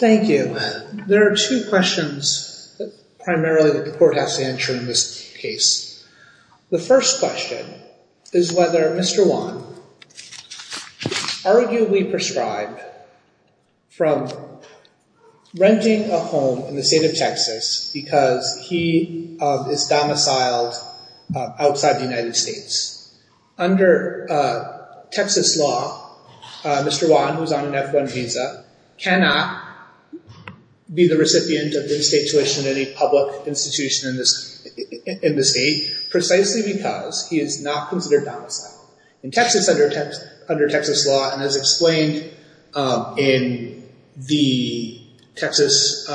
Thank you. There are two questions primarily that the court has to answer in this case. The first question is whether Mr. Wan arguably proscribed from renting a home in the state of Texas because he is domiciled outside the United States. Under Texas law, Mr. Wan, who has a Title I visa, cannot be the recipient of in-state tuition at any public institution in the state precisely because he is not considered domiciled. In Texas, under Texas law and as explained in the Texas,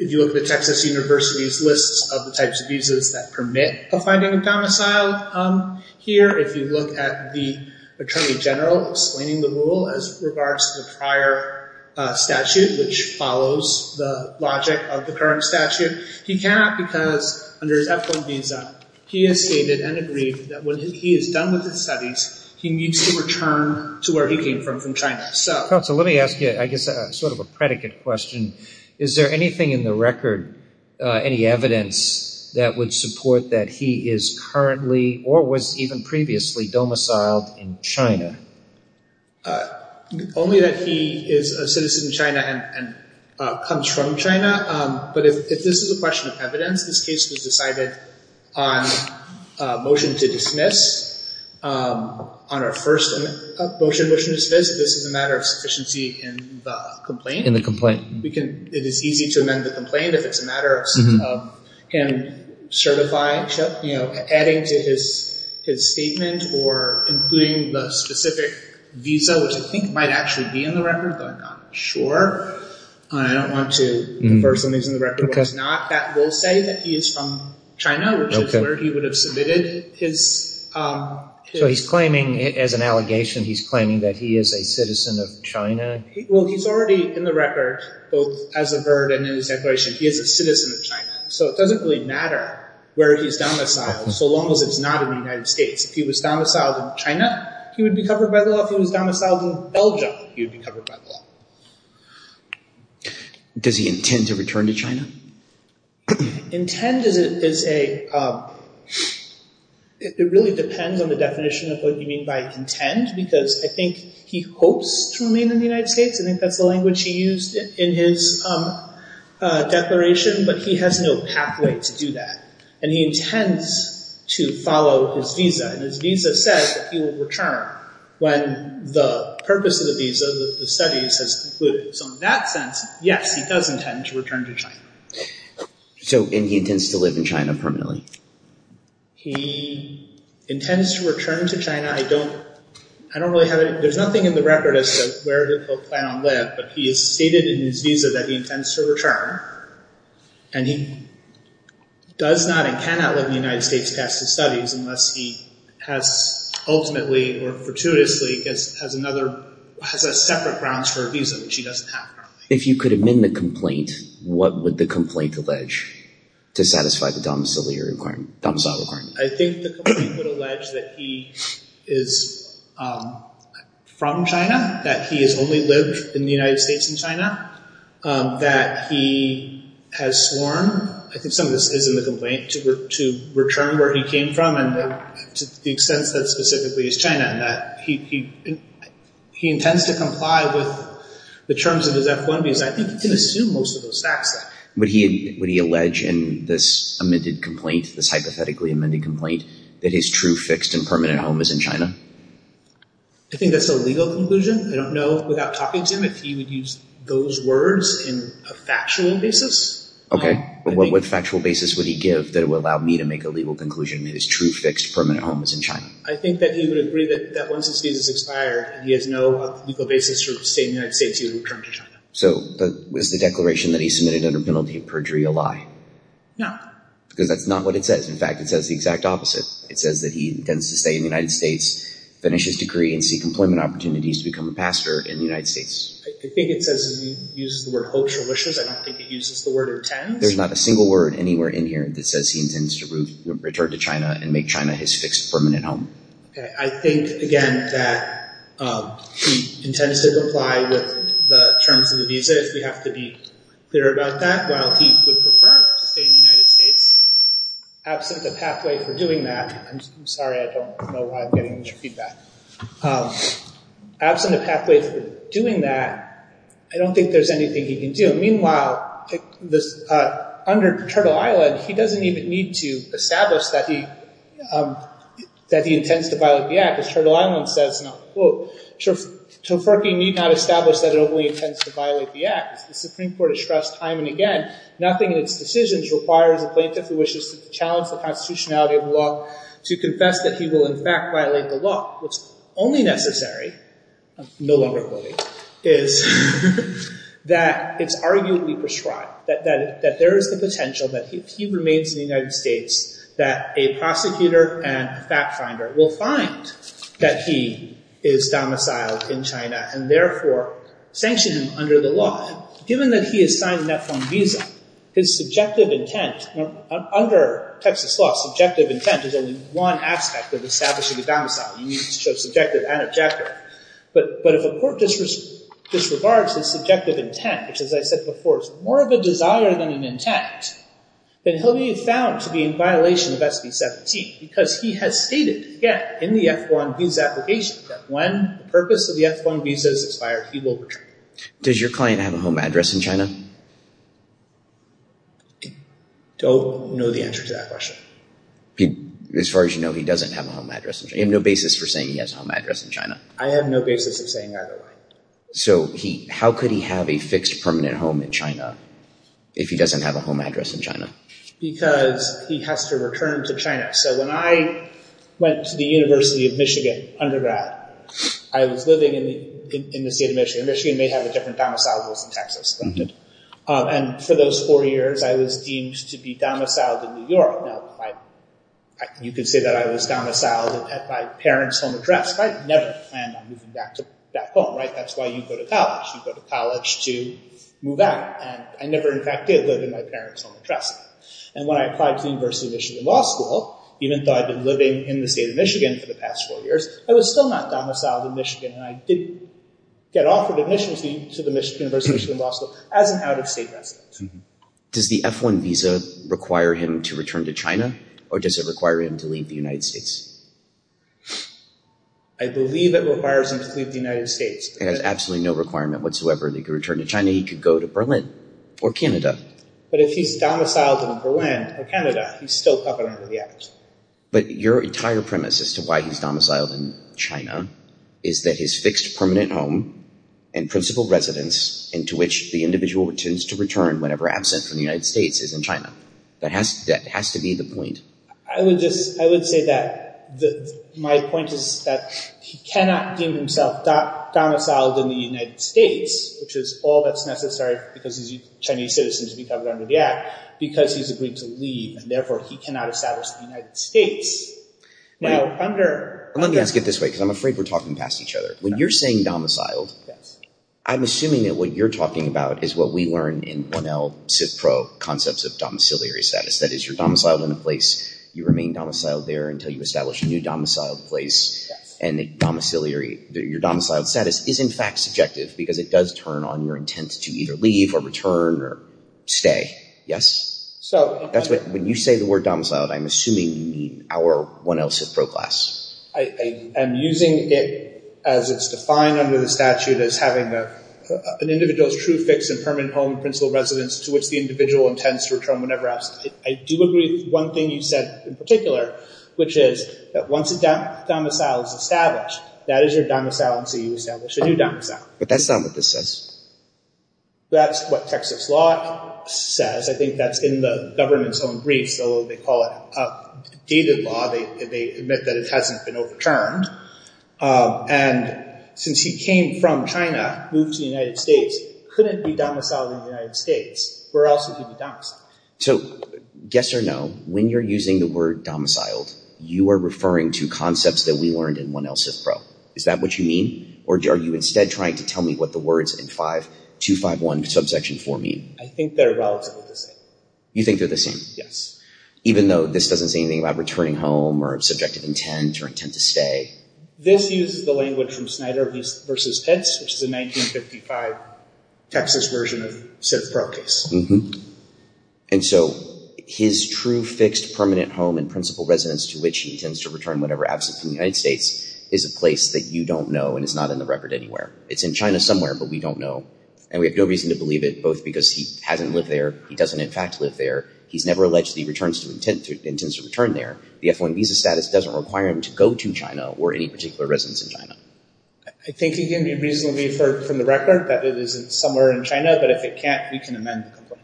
if you look at the Texas University's list of the types of visas that permit the finding of domicile here, if you look at the Attorney General explaining the rule as regards to the prior statute, which follows the logic of the current statute, he cannot because under his F-1 visa, he has stated and agreed that when he is done with his studies, he needs to return to where he came from, from China. So let me ask you, I guess, sort of a predicate question. Is there anything in the record, any evidence that would support that he is currently or was even previously domiciled in China? Only that he is a citizen of China and comes from China, but if this is a question of evidence, this case was decided on a motion to dismiss. On our first motion to dismiss, this is a matter of sufficiency in the complaint. In the complaint. We can, it is easy to amend the complaint if it's a matter of him certifying, adding to his statement or including the specific visa, which I think might actually be in the record, but I'm not sure. I don't want to infer something's in the record that's not. That will say that he is from China, which is where he would have submitted his... So he's claiming, as an allegation, he's claiming that he is a citizen of China? Well, he's already in the record, both as a VERD and in his declaration, he is a citizen of China. So it doesn't really matter where he's domiciled, so long as it's not in the United States. If he was domiciled in China, he would be covered by the law. If he was domiciled in Belgium, he would be covered by the law. Does he intend to return to China? Intend is a... It really depends on the definition of what you mean by intend, because I think he hopes to remain in the United States. I think that's the language he used in his Vietnam declaration, but he has no pathway to do that, and he intends to follow his visa. His visa says that he will return when the purpose of the visa, the studies, has concluded. So in that sense, yes, he does intend to return to China. And he intends to live in China permanently? He intends to return to China. I don't really have any... There's nothing in the record as to where he'll plan on living, but he has stated in his visa that he intends to return, and he does not and cannot let the United States pass his studies unless he has ultimately or fortuitously has a separate grounds for a visa, which he doesn't have currently. If you could amend the complaint, what would the complaint allege to satisfy the domicile requirement? I think the complaint would allege that he is from China, that he has only lived in the United States and China, that he has sworn, I think some of this is in the complaint, to return where he came from, and to the extent that it specifically is China, and that he intends to comply with the terms of his F-1 visa. I think you can assume most of those facts there. Would he allege in this amended complaint, this hypothetically amended complaint, that his true, fixed, and permanent home is in China? I think that's a legal conclusion. I don't know without talking to him if he would use those words in a factual basis. Okay. What factual basis would he give that would allow me to make a legal conclusion that his true, fixed, permanent home is in China? I think that he would agree that once his visa is expired, he has no legal basis for staying in the United States, he would return to China. So was the declaration that he submitted under penalty of perjury a lie? No. Because that's not what it says. In fact, it says the exact opposite. It says that he intends to stay in the United States, finish his degree, and seek employment opportunities to become a pastor in the United States. I think it says he uses the word, hopes or wishes. I don't think it uses the word, intends. There's not a single word anywhere in here that says he intends to return to China and make China his fixed, permanent home. Okay. I think, again, that he intends to comply with the terms of the visa, if we have to be clear about that, while he would prefer to stay in the United States. Absent a pathway for doing that, I'm sorry, I don't know why I'm getting this feedback. Absent a pathway for doing that, I don't think there's anything he can do. Meanwhile, under paternal island, he doesn't even need to establish that he intends to violate the act, because paternal island says, and I'll quote, Tofurky need not establish that it only intends to violate the act, because the Supreme Court has stressed time and again, nothing in its decisions requires a plaintiff who wishes to challenge the constitutionality of the law to confess that he will, in fact, violate the law. What's only necessary, I'm no longer quoting, is that it's arguably prescribed that there is the potential that if he remains in the United States, that a prosecutor and fact finder will find that he is domiciled in China, and therefore sanction him under the law. Given that he has signed an F1 visa, his subjective intent, under Texas law, subjective intent is only one aspect of establishing a domicile. You need to show subjective and objective. But if a court disregards his subjective intent, which as I said before, is more of a desire than an intent, then he'll be found to be in violation of SB 17, because he has stated again in the F1 visa application that when the purpose of the F1 visa is expired, he will return. Does your client have a home address in China? Don't know the answer to that question. As far as you know, he doesn't have a home address in China. You have no basis for saying he has a home address in China. I have no basis of saying either way. So how could he have a fixed permanent home in China if he doesn't have a home address in China? Because he has to return to China. So when I went to the University of Michigan, undergrad, I was living in the state of Michigan. Michigan may have a different domicile than Texas. And for those four years, I was deemed to be domiciled in New York. You could say that I was domiciled at my parents' home address. I never planned on moving back home. That's why you go to college. You go to college to move out. And I never, in fact, did live in my parents' home address. And when I applied to the University of Michigan Law School, even though I'd been living in the state of Michigan for the past four years, I was still not domiciled in Michigan. And I did get offered admission to the University of Michigan Law School as an out-of-state resident. Does the F1 visa require him to return to China? Or does it require him to leave the United States? I believe it requires him to leave the United States. It has absolutely no requirement whatsoever that he could return to China. He could go to Berlin or Canada. But if he's domiciled in Berlin or Canada, he's still covered under the act. But your entire premise as to why he's domiciled in China is that his fixed permanent home and principal residence into which the individual returns to return whenever absent from the United States is in China. That has to be the point. I would say that my point is that he cannot deem himself domiciled in the United States, which is all that's necessary because he's a Chinese citizen to be covered under the act, because he's agreed to leave, and therefore he cannot establish the United States. Let me ask it this way, because I'm afraid we're talking past each other. When you're saying domiciled, I'm assuming that what you're talking about is what we learn in 1L CIPPRO concepts of domiciliary status. That is, you're domiciled in a place, you remain domiciled there until you establish a new domiciled place, and your domiciled status is in fact subjective because it does turn on your intent to either leave, or return, or stay. Yes? When you say the word domiciled, I'm assuming you mean our 1L CIPPRO class. I am using it as it's defined under the statute as having an individual's true fixed and permanent home and principal residence to which the individual intends to return whenever absent. I do agree with one thing you said in particular, which is that once a domicile is established, that is your domicile until you establish a new domicile. But that's not what this says. That's what Texas law says. I think that's in the government's own briefs, though they call it dated law. They admit that it hasn't been overturned. And since he came from China, moved to the United States, couldn't be domiciled in the United States. Where else would he be domiciled? So, yes or no, when you're using the word domiciled, you are referring to concepts that we learned in 1L CIPPRO. Is that what you mean? Or are you instead trying to tell me what the words in 5251 subsection 4 mean? I think they're relatively the same. You think they're the same? Yes. Even though this doesn't say anything about returning home or subjective intent or intent to stay? This uses the language from Snyder vs. Pitts, which is a 1955 Texas version of CIPPRO case. And so his true, fixed, permanent home and principal residence to which he intends to return whenever absent from the United States is a place that you don't know and is not in the record anywhere. It's in China somewhere, but we don't know. And we have no reason to believe it, both because he hasn't lived there, he doesn't in fact live there, he's never alleged that he returns to or intends to return there. The F1 visa status doesn't require him to go to China or any particular residence in China. I think you can be reasonably affirmed from the record that it is somewhere in China, but if it can't, we can amend the complaint.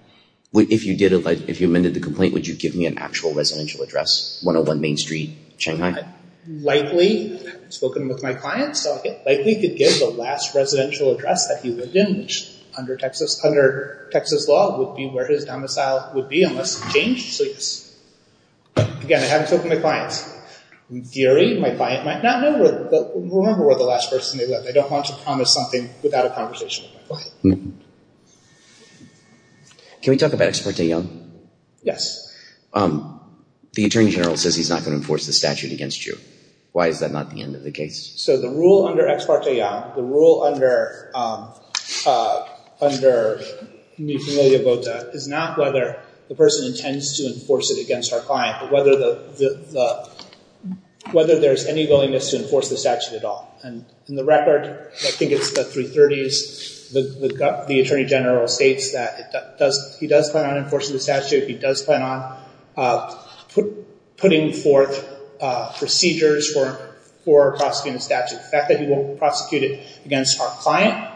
If you amended the complaint, would you give me an actual residential address? 101 Main Street, Shanghai? Likely. I haven't spoken with my clients, so I likely could give the last residential address that he lived in which, under Texas law, would be where his domicile would be unless changed. Again, I haven't spoken with my clients. In theory, my client might not know, but remember where the last person they lived. I don't want to promise something without a conversation with my client. Can we talk about Ex parte Young? Yes. The Attorney General says he's not going to enforce the statute against you. Why is that not the end of the case? So the rule under Ex parte Young, the rule under Mi Familia Vota, is not whether the person intends to enforce it against our client, but whether the whether there's any willingness to enforce the statute at all. In the record, I think it's the 330s, the Attorney General states that he does plan on enforcing the statute, he does plan on putting forth procedures for prosecuting the statute. The fact that he won't prosecute it against our client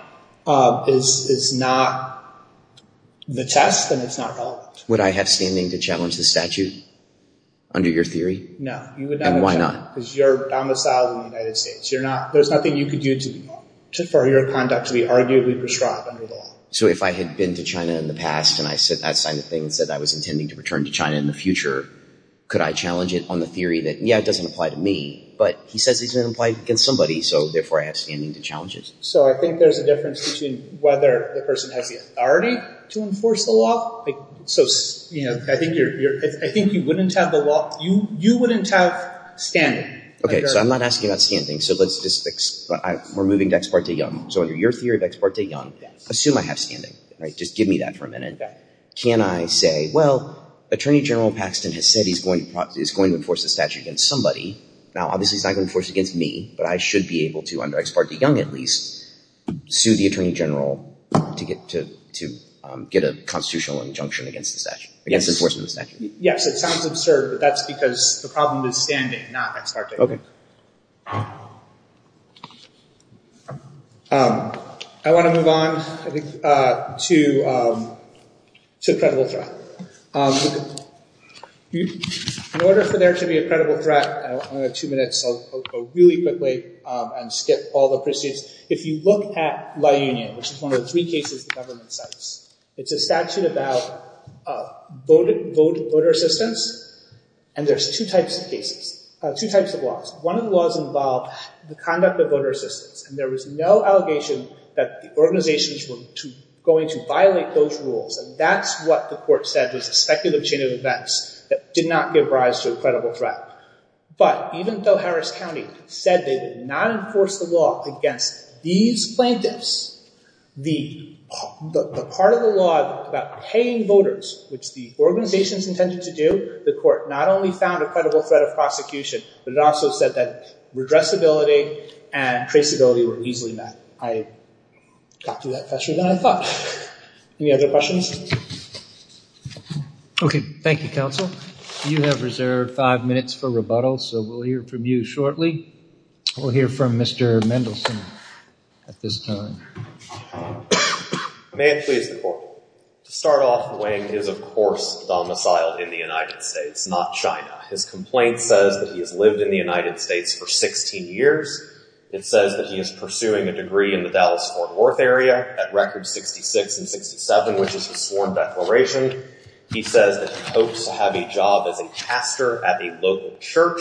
is not the test, and it's not relevant. Would I have standing to challenge the statute under your theory? No. You would not have a chance. And why not? Because you're domiciled in the United States. There's nothing you could do for your conduct to be arguably prescribed under the law. So if I had been to China in the past, and I said that kind of thing, and said I was intending to return to China in the future, could I challenge it on the theory that yeah, it doesn't apply to me, but he says it doesn't apply against somebody, so therefore I have standing to challenge it. So I think there's a difference between whether the person has the authority to enforce the law. So, you know, I think you wouldn't have the law, you wouldn't have standing. Okay, so I'm not asking about standing. We're moving to Ex parte Young. So under your theory of Ex parte Young, assume I have standing. Just give me that for a minute. Can I say well, Attorney General Paxton has said he's going to enforce the statute against somebody. Now obviously he's not going to enforce it against me, but I should be able to, under Ex parte Young at least, sue the Attorney General to get a constitutional injunction against the statute. Yes, it sounds absurd, but that's because the problem is standing, not Ex parte Young. I want to move on to a credible threat. In order for there to be a credible threat, I only have two minutes, so I'll go really quickly and skip all the proceeds. If you look at La Union, which is one of the three cases the government cites, it's a statute about voter assistance and there's two types of laws. One of the laws involved the conduct of voter assistance, and there was no allegation that the organizations were going to violate those rules, and that's what the court said was a speculative chain of events that did not give rise to a credible threat. But even though Harris County said they did not enforce the law against these plaintiffs, the part of the law about paying voters, which the organizations intended to do, the court not only found a credible threat of prosecution, but it also said that redressability and traceability were easily met. I got through that faster than I thought. Any other questions? Okay, thank you, counsel. You have reserved five minutes for rebuttal, so we'll hear from you shortly. We'll hear from Mr. Mendelson at this time. May it please the court, to start off, Wayne is of course domiciled in the United States, not China. His complaint says that he has lived in the United States for 16 years. It says that he is pursuing a degree in the Dallas-Fort Worth area at record 66 and 67, which is his sworn declaration. He says that he hopes to have a job as a pastor at a local church.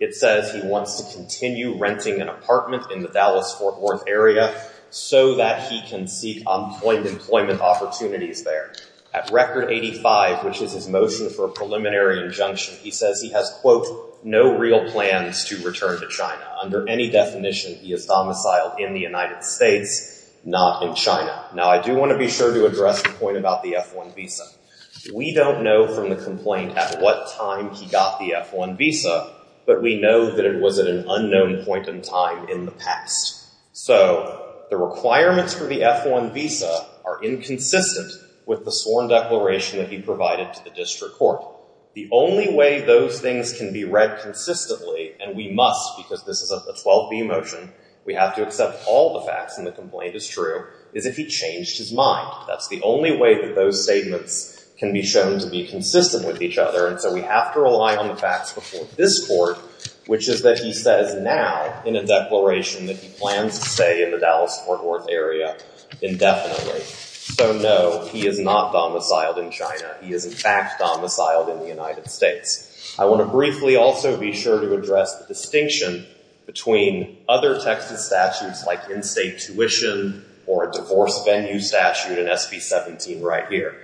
It says he wants to continue renting an apartment in the Dallas-Fort Worth area so that he can seek unemployment opportunities there. At record 85, which is his motion for a preliminary injunction, he says he has no real plans to return to China. Under any definition, he is domiciled in the United States, not in China. Now, I do want to be sure to address the point about the F-1 visa. We don't know from the complaint at what time he got the F-1 visa, but we know that it was at an unknown point in time in the past. So, the requirements for the F-1 visa are inconsistent with the sworn declaration that he provided to the district court. The only way those things can be read consistently, and we must because this is a 12b motion, we have to accept all the facts, and the complaint is true, is if he changed his mind. That's the only way that those statements can be shown to be consistent with each other, and so we have to rely on the facts before this court, which is that he says now, in a declaration that he plans to say in the Dallas-Fort Worth area indefinitely. So, no, he is not domiciled in China. He is, in fact, domiciled in the United States. I want to briefly also be sure to address the distinction between other Texas statutes like in-state tuition or a divorce venue statute in SB 17 right here.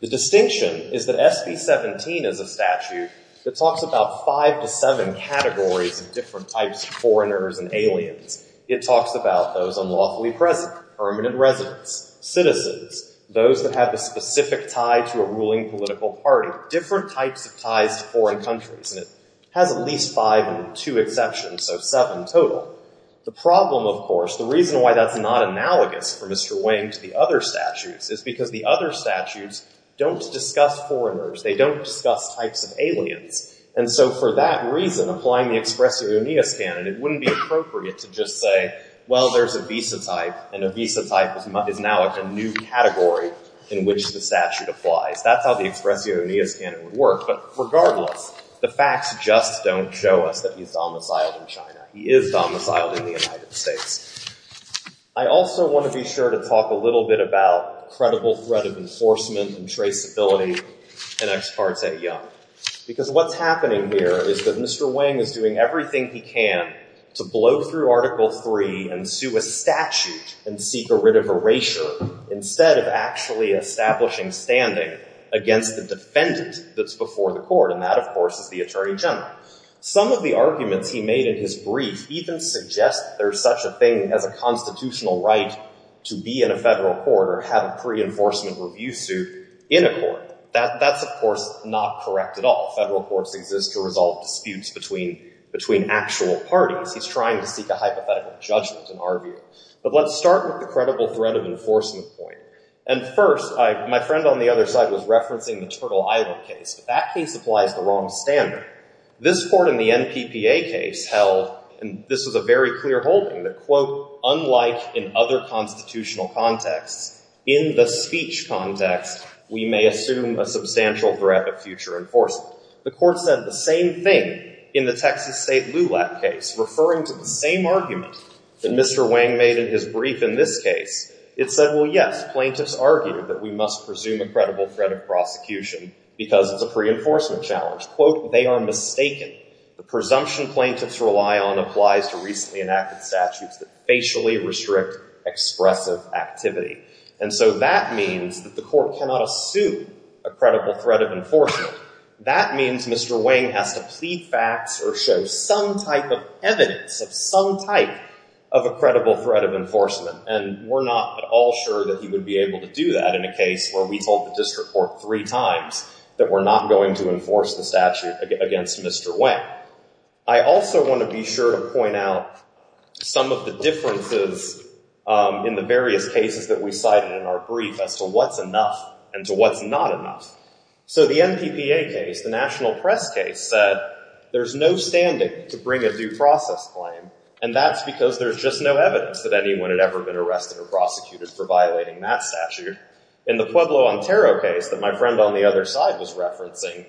The distinction is that SB 17 is a statute that talks about five to seven categories of different types of foreigners and aliens. It talks about those unlawfully present, permanent residents, citizens, those that have a specific tie to a ruling political party, different types of ties to foreign countries, and it has at least five and two exceptions, so seven total. The problem, of course, the reason why that's not analogous for Mr. Wang to the other statutes is because the other statutes don't discuss foreigners. They don't discuss types of aliens, and so for that reason, applying the Expressio Oneus canon, it wouldn't be appropriate to just say, well, there's a visa type and a visa type is now a new category in which the statute applies. That's how the Expressio Oneus canon would work, but regardless, the facts just don't show us that he's domiciled in China. He is domiciled in the United States. I also want to be sure to talk a little bit about credible threat of enforcement and traceability in Ex parte Young because what's happening here is that Mr. Wang is doing everything he can to blow through Article 3 and sue a statute and seek a writ of erasure instead of actually establishing standing against the defendant that's before the court, and that, of course, is the Attorney General. Some of the arguments he made in his brief even suggest there's such a thing as a constitutional right to be in a federal court or have a pre-enforcement review suit in a court. That's, of course, not correct at all. Federal courts exist to resolve disputes between actual parties. He's trying to seek a hypothetical judgment, in our view. But let's start with the credible threat of enforcement point. And first, my friend on the other side was referencing the Turtle Island case, but that case applies the wrong standard. This court in the NPPA case held, and this was a very clear holding, that, quote, unlike in other constitutional contexts, in the speech context, we may assume a substantial threat of future enforcement. The court said the same thing in the Texas State LULAC case, referring to the same argument that Mr. Wang made in his brief in this case. It said, well, yes, plaintiffs argued that we must presume a credible threat of prosecution because it's a pre-enforcement challenge. Quote, they are mistaken. The presumption plaintiffs rely on applies to racially restrict expressive activity. And so that means that the court cannot assume a credible threat of enforcement. That means Mr. Wang has to plead facts or show some type of evidence of some type of a credible threat of enforcement. And we're not at all sure that he would be able to do that in a case where we told the district court three times that we're not going to enforce the statute against Mr. Wang. I also want to be sure to point out some of the differences in the various cases that we cited in our brief as to what's enough and to what's not enough. So the MPPA case, the national press case, said there's no standing to bring a due process claim, and that's because there's just no evidence that anyone had ever been arrested or prosecuted for violating that statute. In the Pueblo, Ontario case that my friend on the other side was referencing,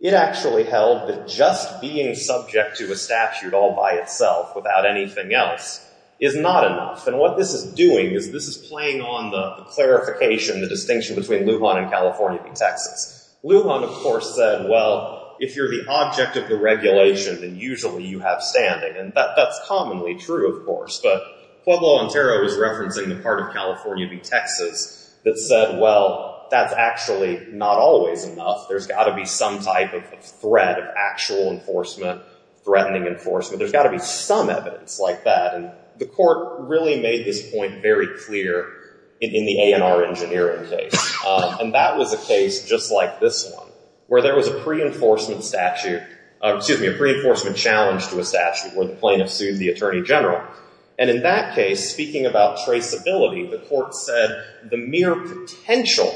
it actually held that just being subject to a statute all by itself without anything else is not enough. And what this is doing is this is playing on the clarification, the distinction between Lujan and California v. Texas. Lujan, of course, said well, if you're the object of the regulation, then usually you have standing. And that's commonly true, of course. But Pueblo, Ontario was referencing the part of California v. Texas that said, well, that's actually not always enough. There's got to be some type of threat of actual enforcement, threatening enforcement. There's got to be some evidence like that. And the court really made this point very clear in the A&R engineering case. And that was a case just like this one, where there was a pre-enforcement statute, excuse me, a pre-enforcement challenge to a statute where the plaintiff sued the attorney general. And in that case, speaking about traceability, the court said the mere potential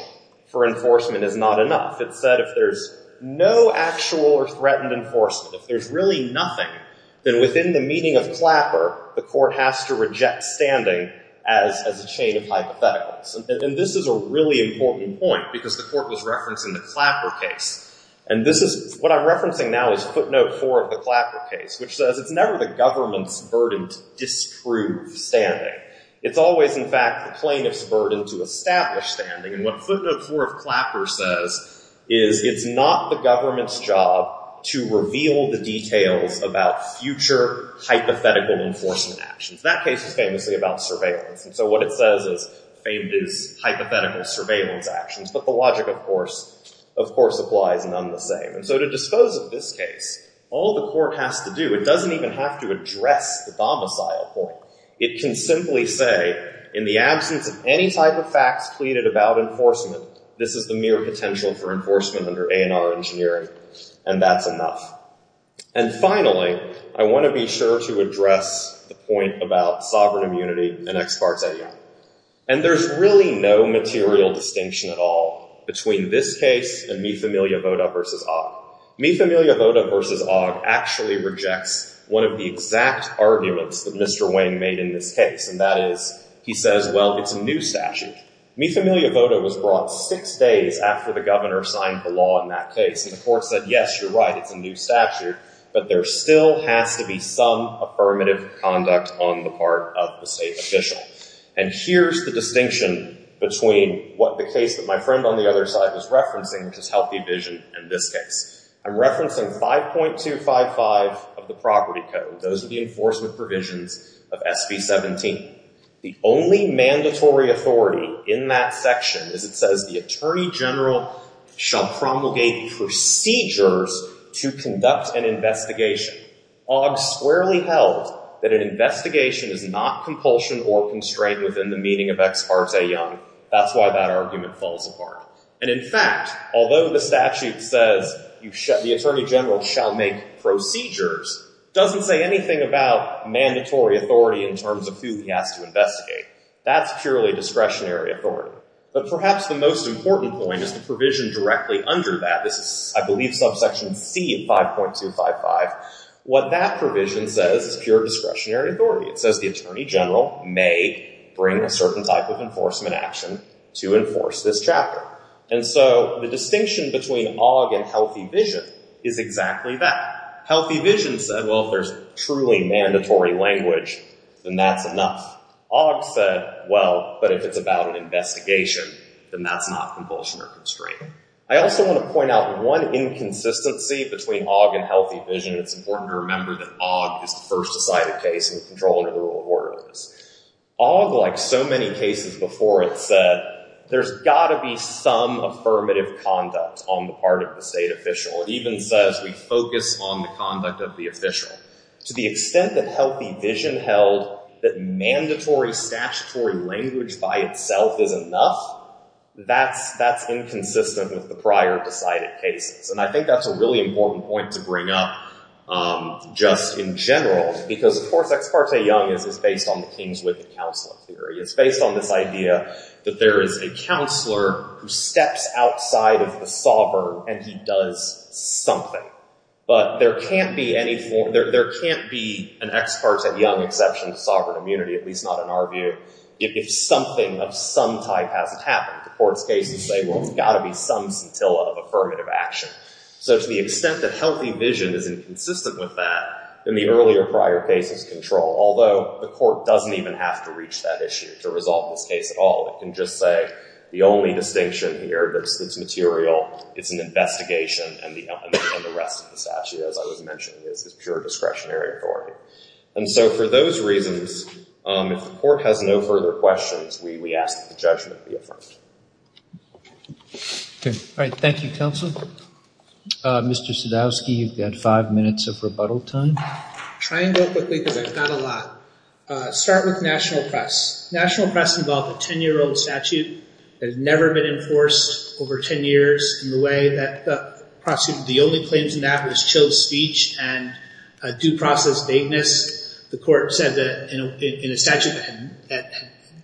for enforcement is not enough. It said if there's no actual or threatened enforcement, if there's really nothing, then within the meaning of Clapper, the court has to reject standing as a chain of hypotheticals. And this is a really important point, because the court was referencing the Clapper case. And what I'm referencing now is footnote 4 of the Clapper case, which says it's never the government's burden to disprove standing. It's always, in fact, the plaintiff's burden to establish standing. And what footnote 4 of Clapper says is it's not the government's job to reveal the details about future hypothetical enforcement actions. That case is famously about surveillance. And so what it says is famed as hypothetical surveillance actions. But the logic, of course, of course, applies none the same. And so to dispose of this case, all the court has to do, it doesn't even have to address the domicile point. It can simply say in the absence of any type of domicile, this is the mere potential for enforcement under A&R engineering. And that's enough. And finally, I want to be sure to address the point about sovereign immunity and ex parte. And there's really no material distinction at all between this case and Mifamilia Voda v. Ogg. Mifamilia Voda v. Ogg actually rejects one of the exact arguments that Mr. Wang made in this case, and that is, he says, well, it's a new statute. Mifamilia Voda was brought six days after the governor signed the law in that case. And the court said, yes, you're right, it's a new statute, but there still has to be some affirmative conduct on the part of the state official. And here's the distinction between what the case that my friend on the other side was referencing, which is Healthy Vision, in this case. I'm referencing 5.255 of the property code. Those are the enforcement provisions of SB 17. The only mandatory authority in that section is it says the attorney general shall promulgate procedures to conduct an investigation. Ogg squarely held that an investigation is not compulsion or constraint within the meaning of ex parte young. That's why that argument falls apart. And in fact, although the statute says the attorney general shall make procedures, doesn't say anything about mandatory authority in terms of who he has to investigate. That's purely discretionary authority. But perhaps the most important point is the provision directly under that. This is, I believe, subsection C of 5.255. What that provision says is pure discretionary authority. It says the attorney general may bring a certain type of enforcement action to enforce this chapter. And so the distinction between Ogg and Healthy Vision is exactly that. Healthy Vision said, well, if there's truly mandatory language, then that's enough. Ogg said, well, but if it's about an investigation, then that's not compulsion or constraint. I also want to point out one inconsistency between Ogg and Healthy Vision. It's important to remember that Ogg is the first decided case and the control under the rule of order is. Ogg, like so many cases before it, said there's got to be some affirmative conduct on the part of the state official. It even says we focus on the conduct of the official. To the extent that Healthy Vision held that mandatory statutory language by itself is enough, that's inconsistent with the prior decided cases. And I think that's a really important point to bring up just in general because, of course, Ex Parte Young is based on the Kingswood Counselor Theory. It's based on this idea that there is a counselor who steps outside of the sovereign and he does something. But there can't be an Ex Parte Young exception to sovereign immunity, at least not in our view, if something of some type hasn't happened. The court's case would say, well, there's got to be some scintilla of affirmative action. So to the extent that Healthy Vision is inconsistent with that, in the earlier prior cases control, although the court doesn't even have to reach that issue to resolve this case at all. It can just say the only distinction here is that it's material, it's an investigation, and the rest of the statute, as I was mentioning, is pure discretionary authority. And so for those reasons, if the court has no further questions, we ask that the judgment be affirmed. All right. Thank you, Counsel. Mr. Sadowski, you've got five minutes of rebuttal time. Try and go quickly because I've got a lot. Start with National Press. National Press involved a 10-year-old statute that had never been enforced over 10 years in the way that the only claims in that was chilled speech and due process vagueness. The court said that in a statute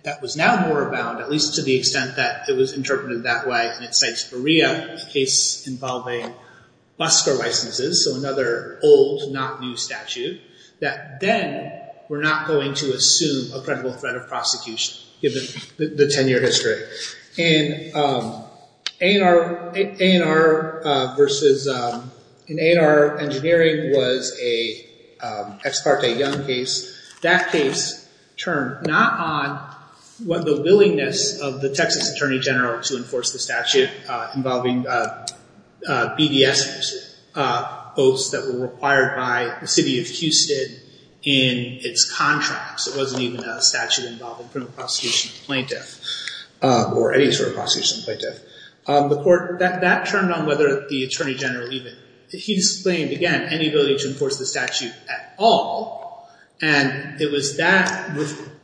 that was now more abound, at least to the extent that it was interpreted that way, and it cites Berea, a case involving busker licenses, so another old, not new statute, that then we're not going to assume a credible threat of prosecution given the 10-year history. In A&R versus, in A&R engineering was a Ex parte Young case. That case turned not on the willingness of the Texas Attorney General to enforce the statute involving BDS voters that were required by the city of Houston in its contracts. It wasn't even a statute involving a prosecution plaintiff or any sort of prosecution plaintiff. The court, that turned on whether the Attorney General even, he explained, again, any ability to enforce the statute at all, and it was that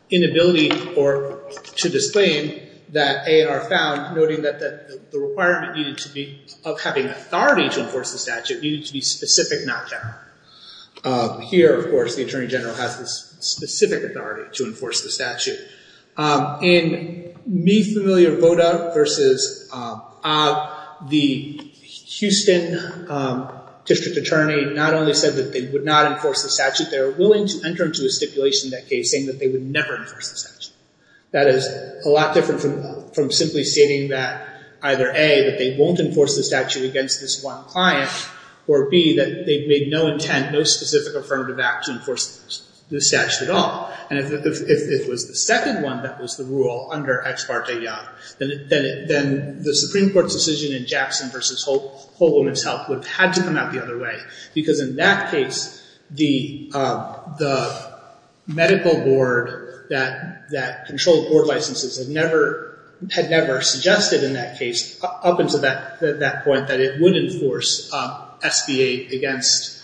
inability to disclaim that A&R found noting that the requirement needed to be, of having authority to enforce the statute, needed to be specific, not general. Here, of course, the Attorney General has this specific authority to enforce the statute. In me familiar VOTA versus OB, the Houston District Attorney not only said that they would not enforce the statute, they were willing to enter into a stipulation in that case saying that they would never enforce the statute. That is a lot different from simply stating that either A, that they won't enforce the statute against this one client, or B, that they made no intent, no specific affirmative act to enforce the statute at all. If it was the second one that was the rule under Ex Parte I, then the Supreme Court's decision in Jackson versus Whole Woman's Health would have had to come out the other way, because in that case the medical board that controlled board licenses had never suggested in that case, up until that point, that it would enforce SBA against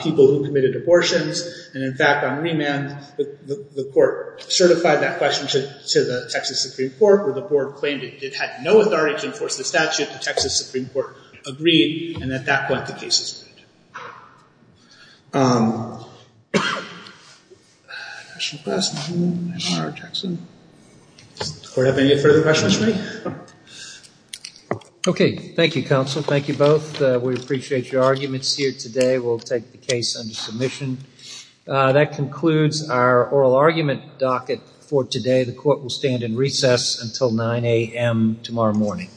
people who committed abortions, and in fact on remand the court certified that question to the Texas Supreme Court, where the board claimed it had no authority to enforce the statute. The Texas Supreme Court agreed, and at that point the case was made. Does the court have any further questions for me? Okay. Thank you, counsel. Thank you both. We appreciate your arguments here today. We'll take the case under submission. That concludes our oral argument docket for today. The court will stand in recess until 9 a.m. tomorrow morning.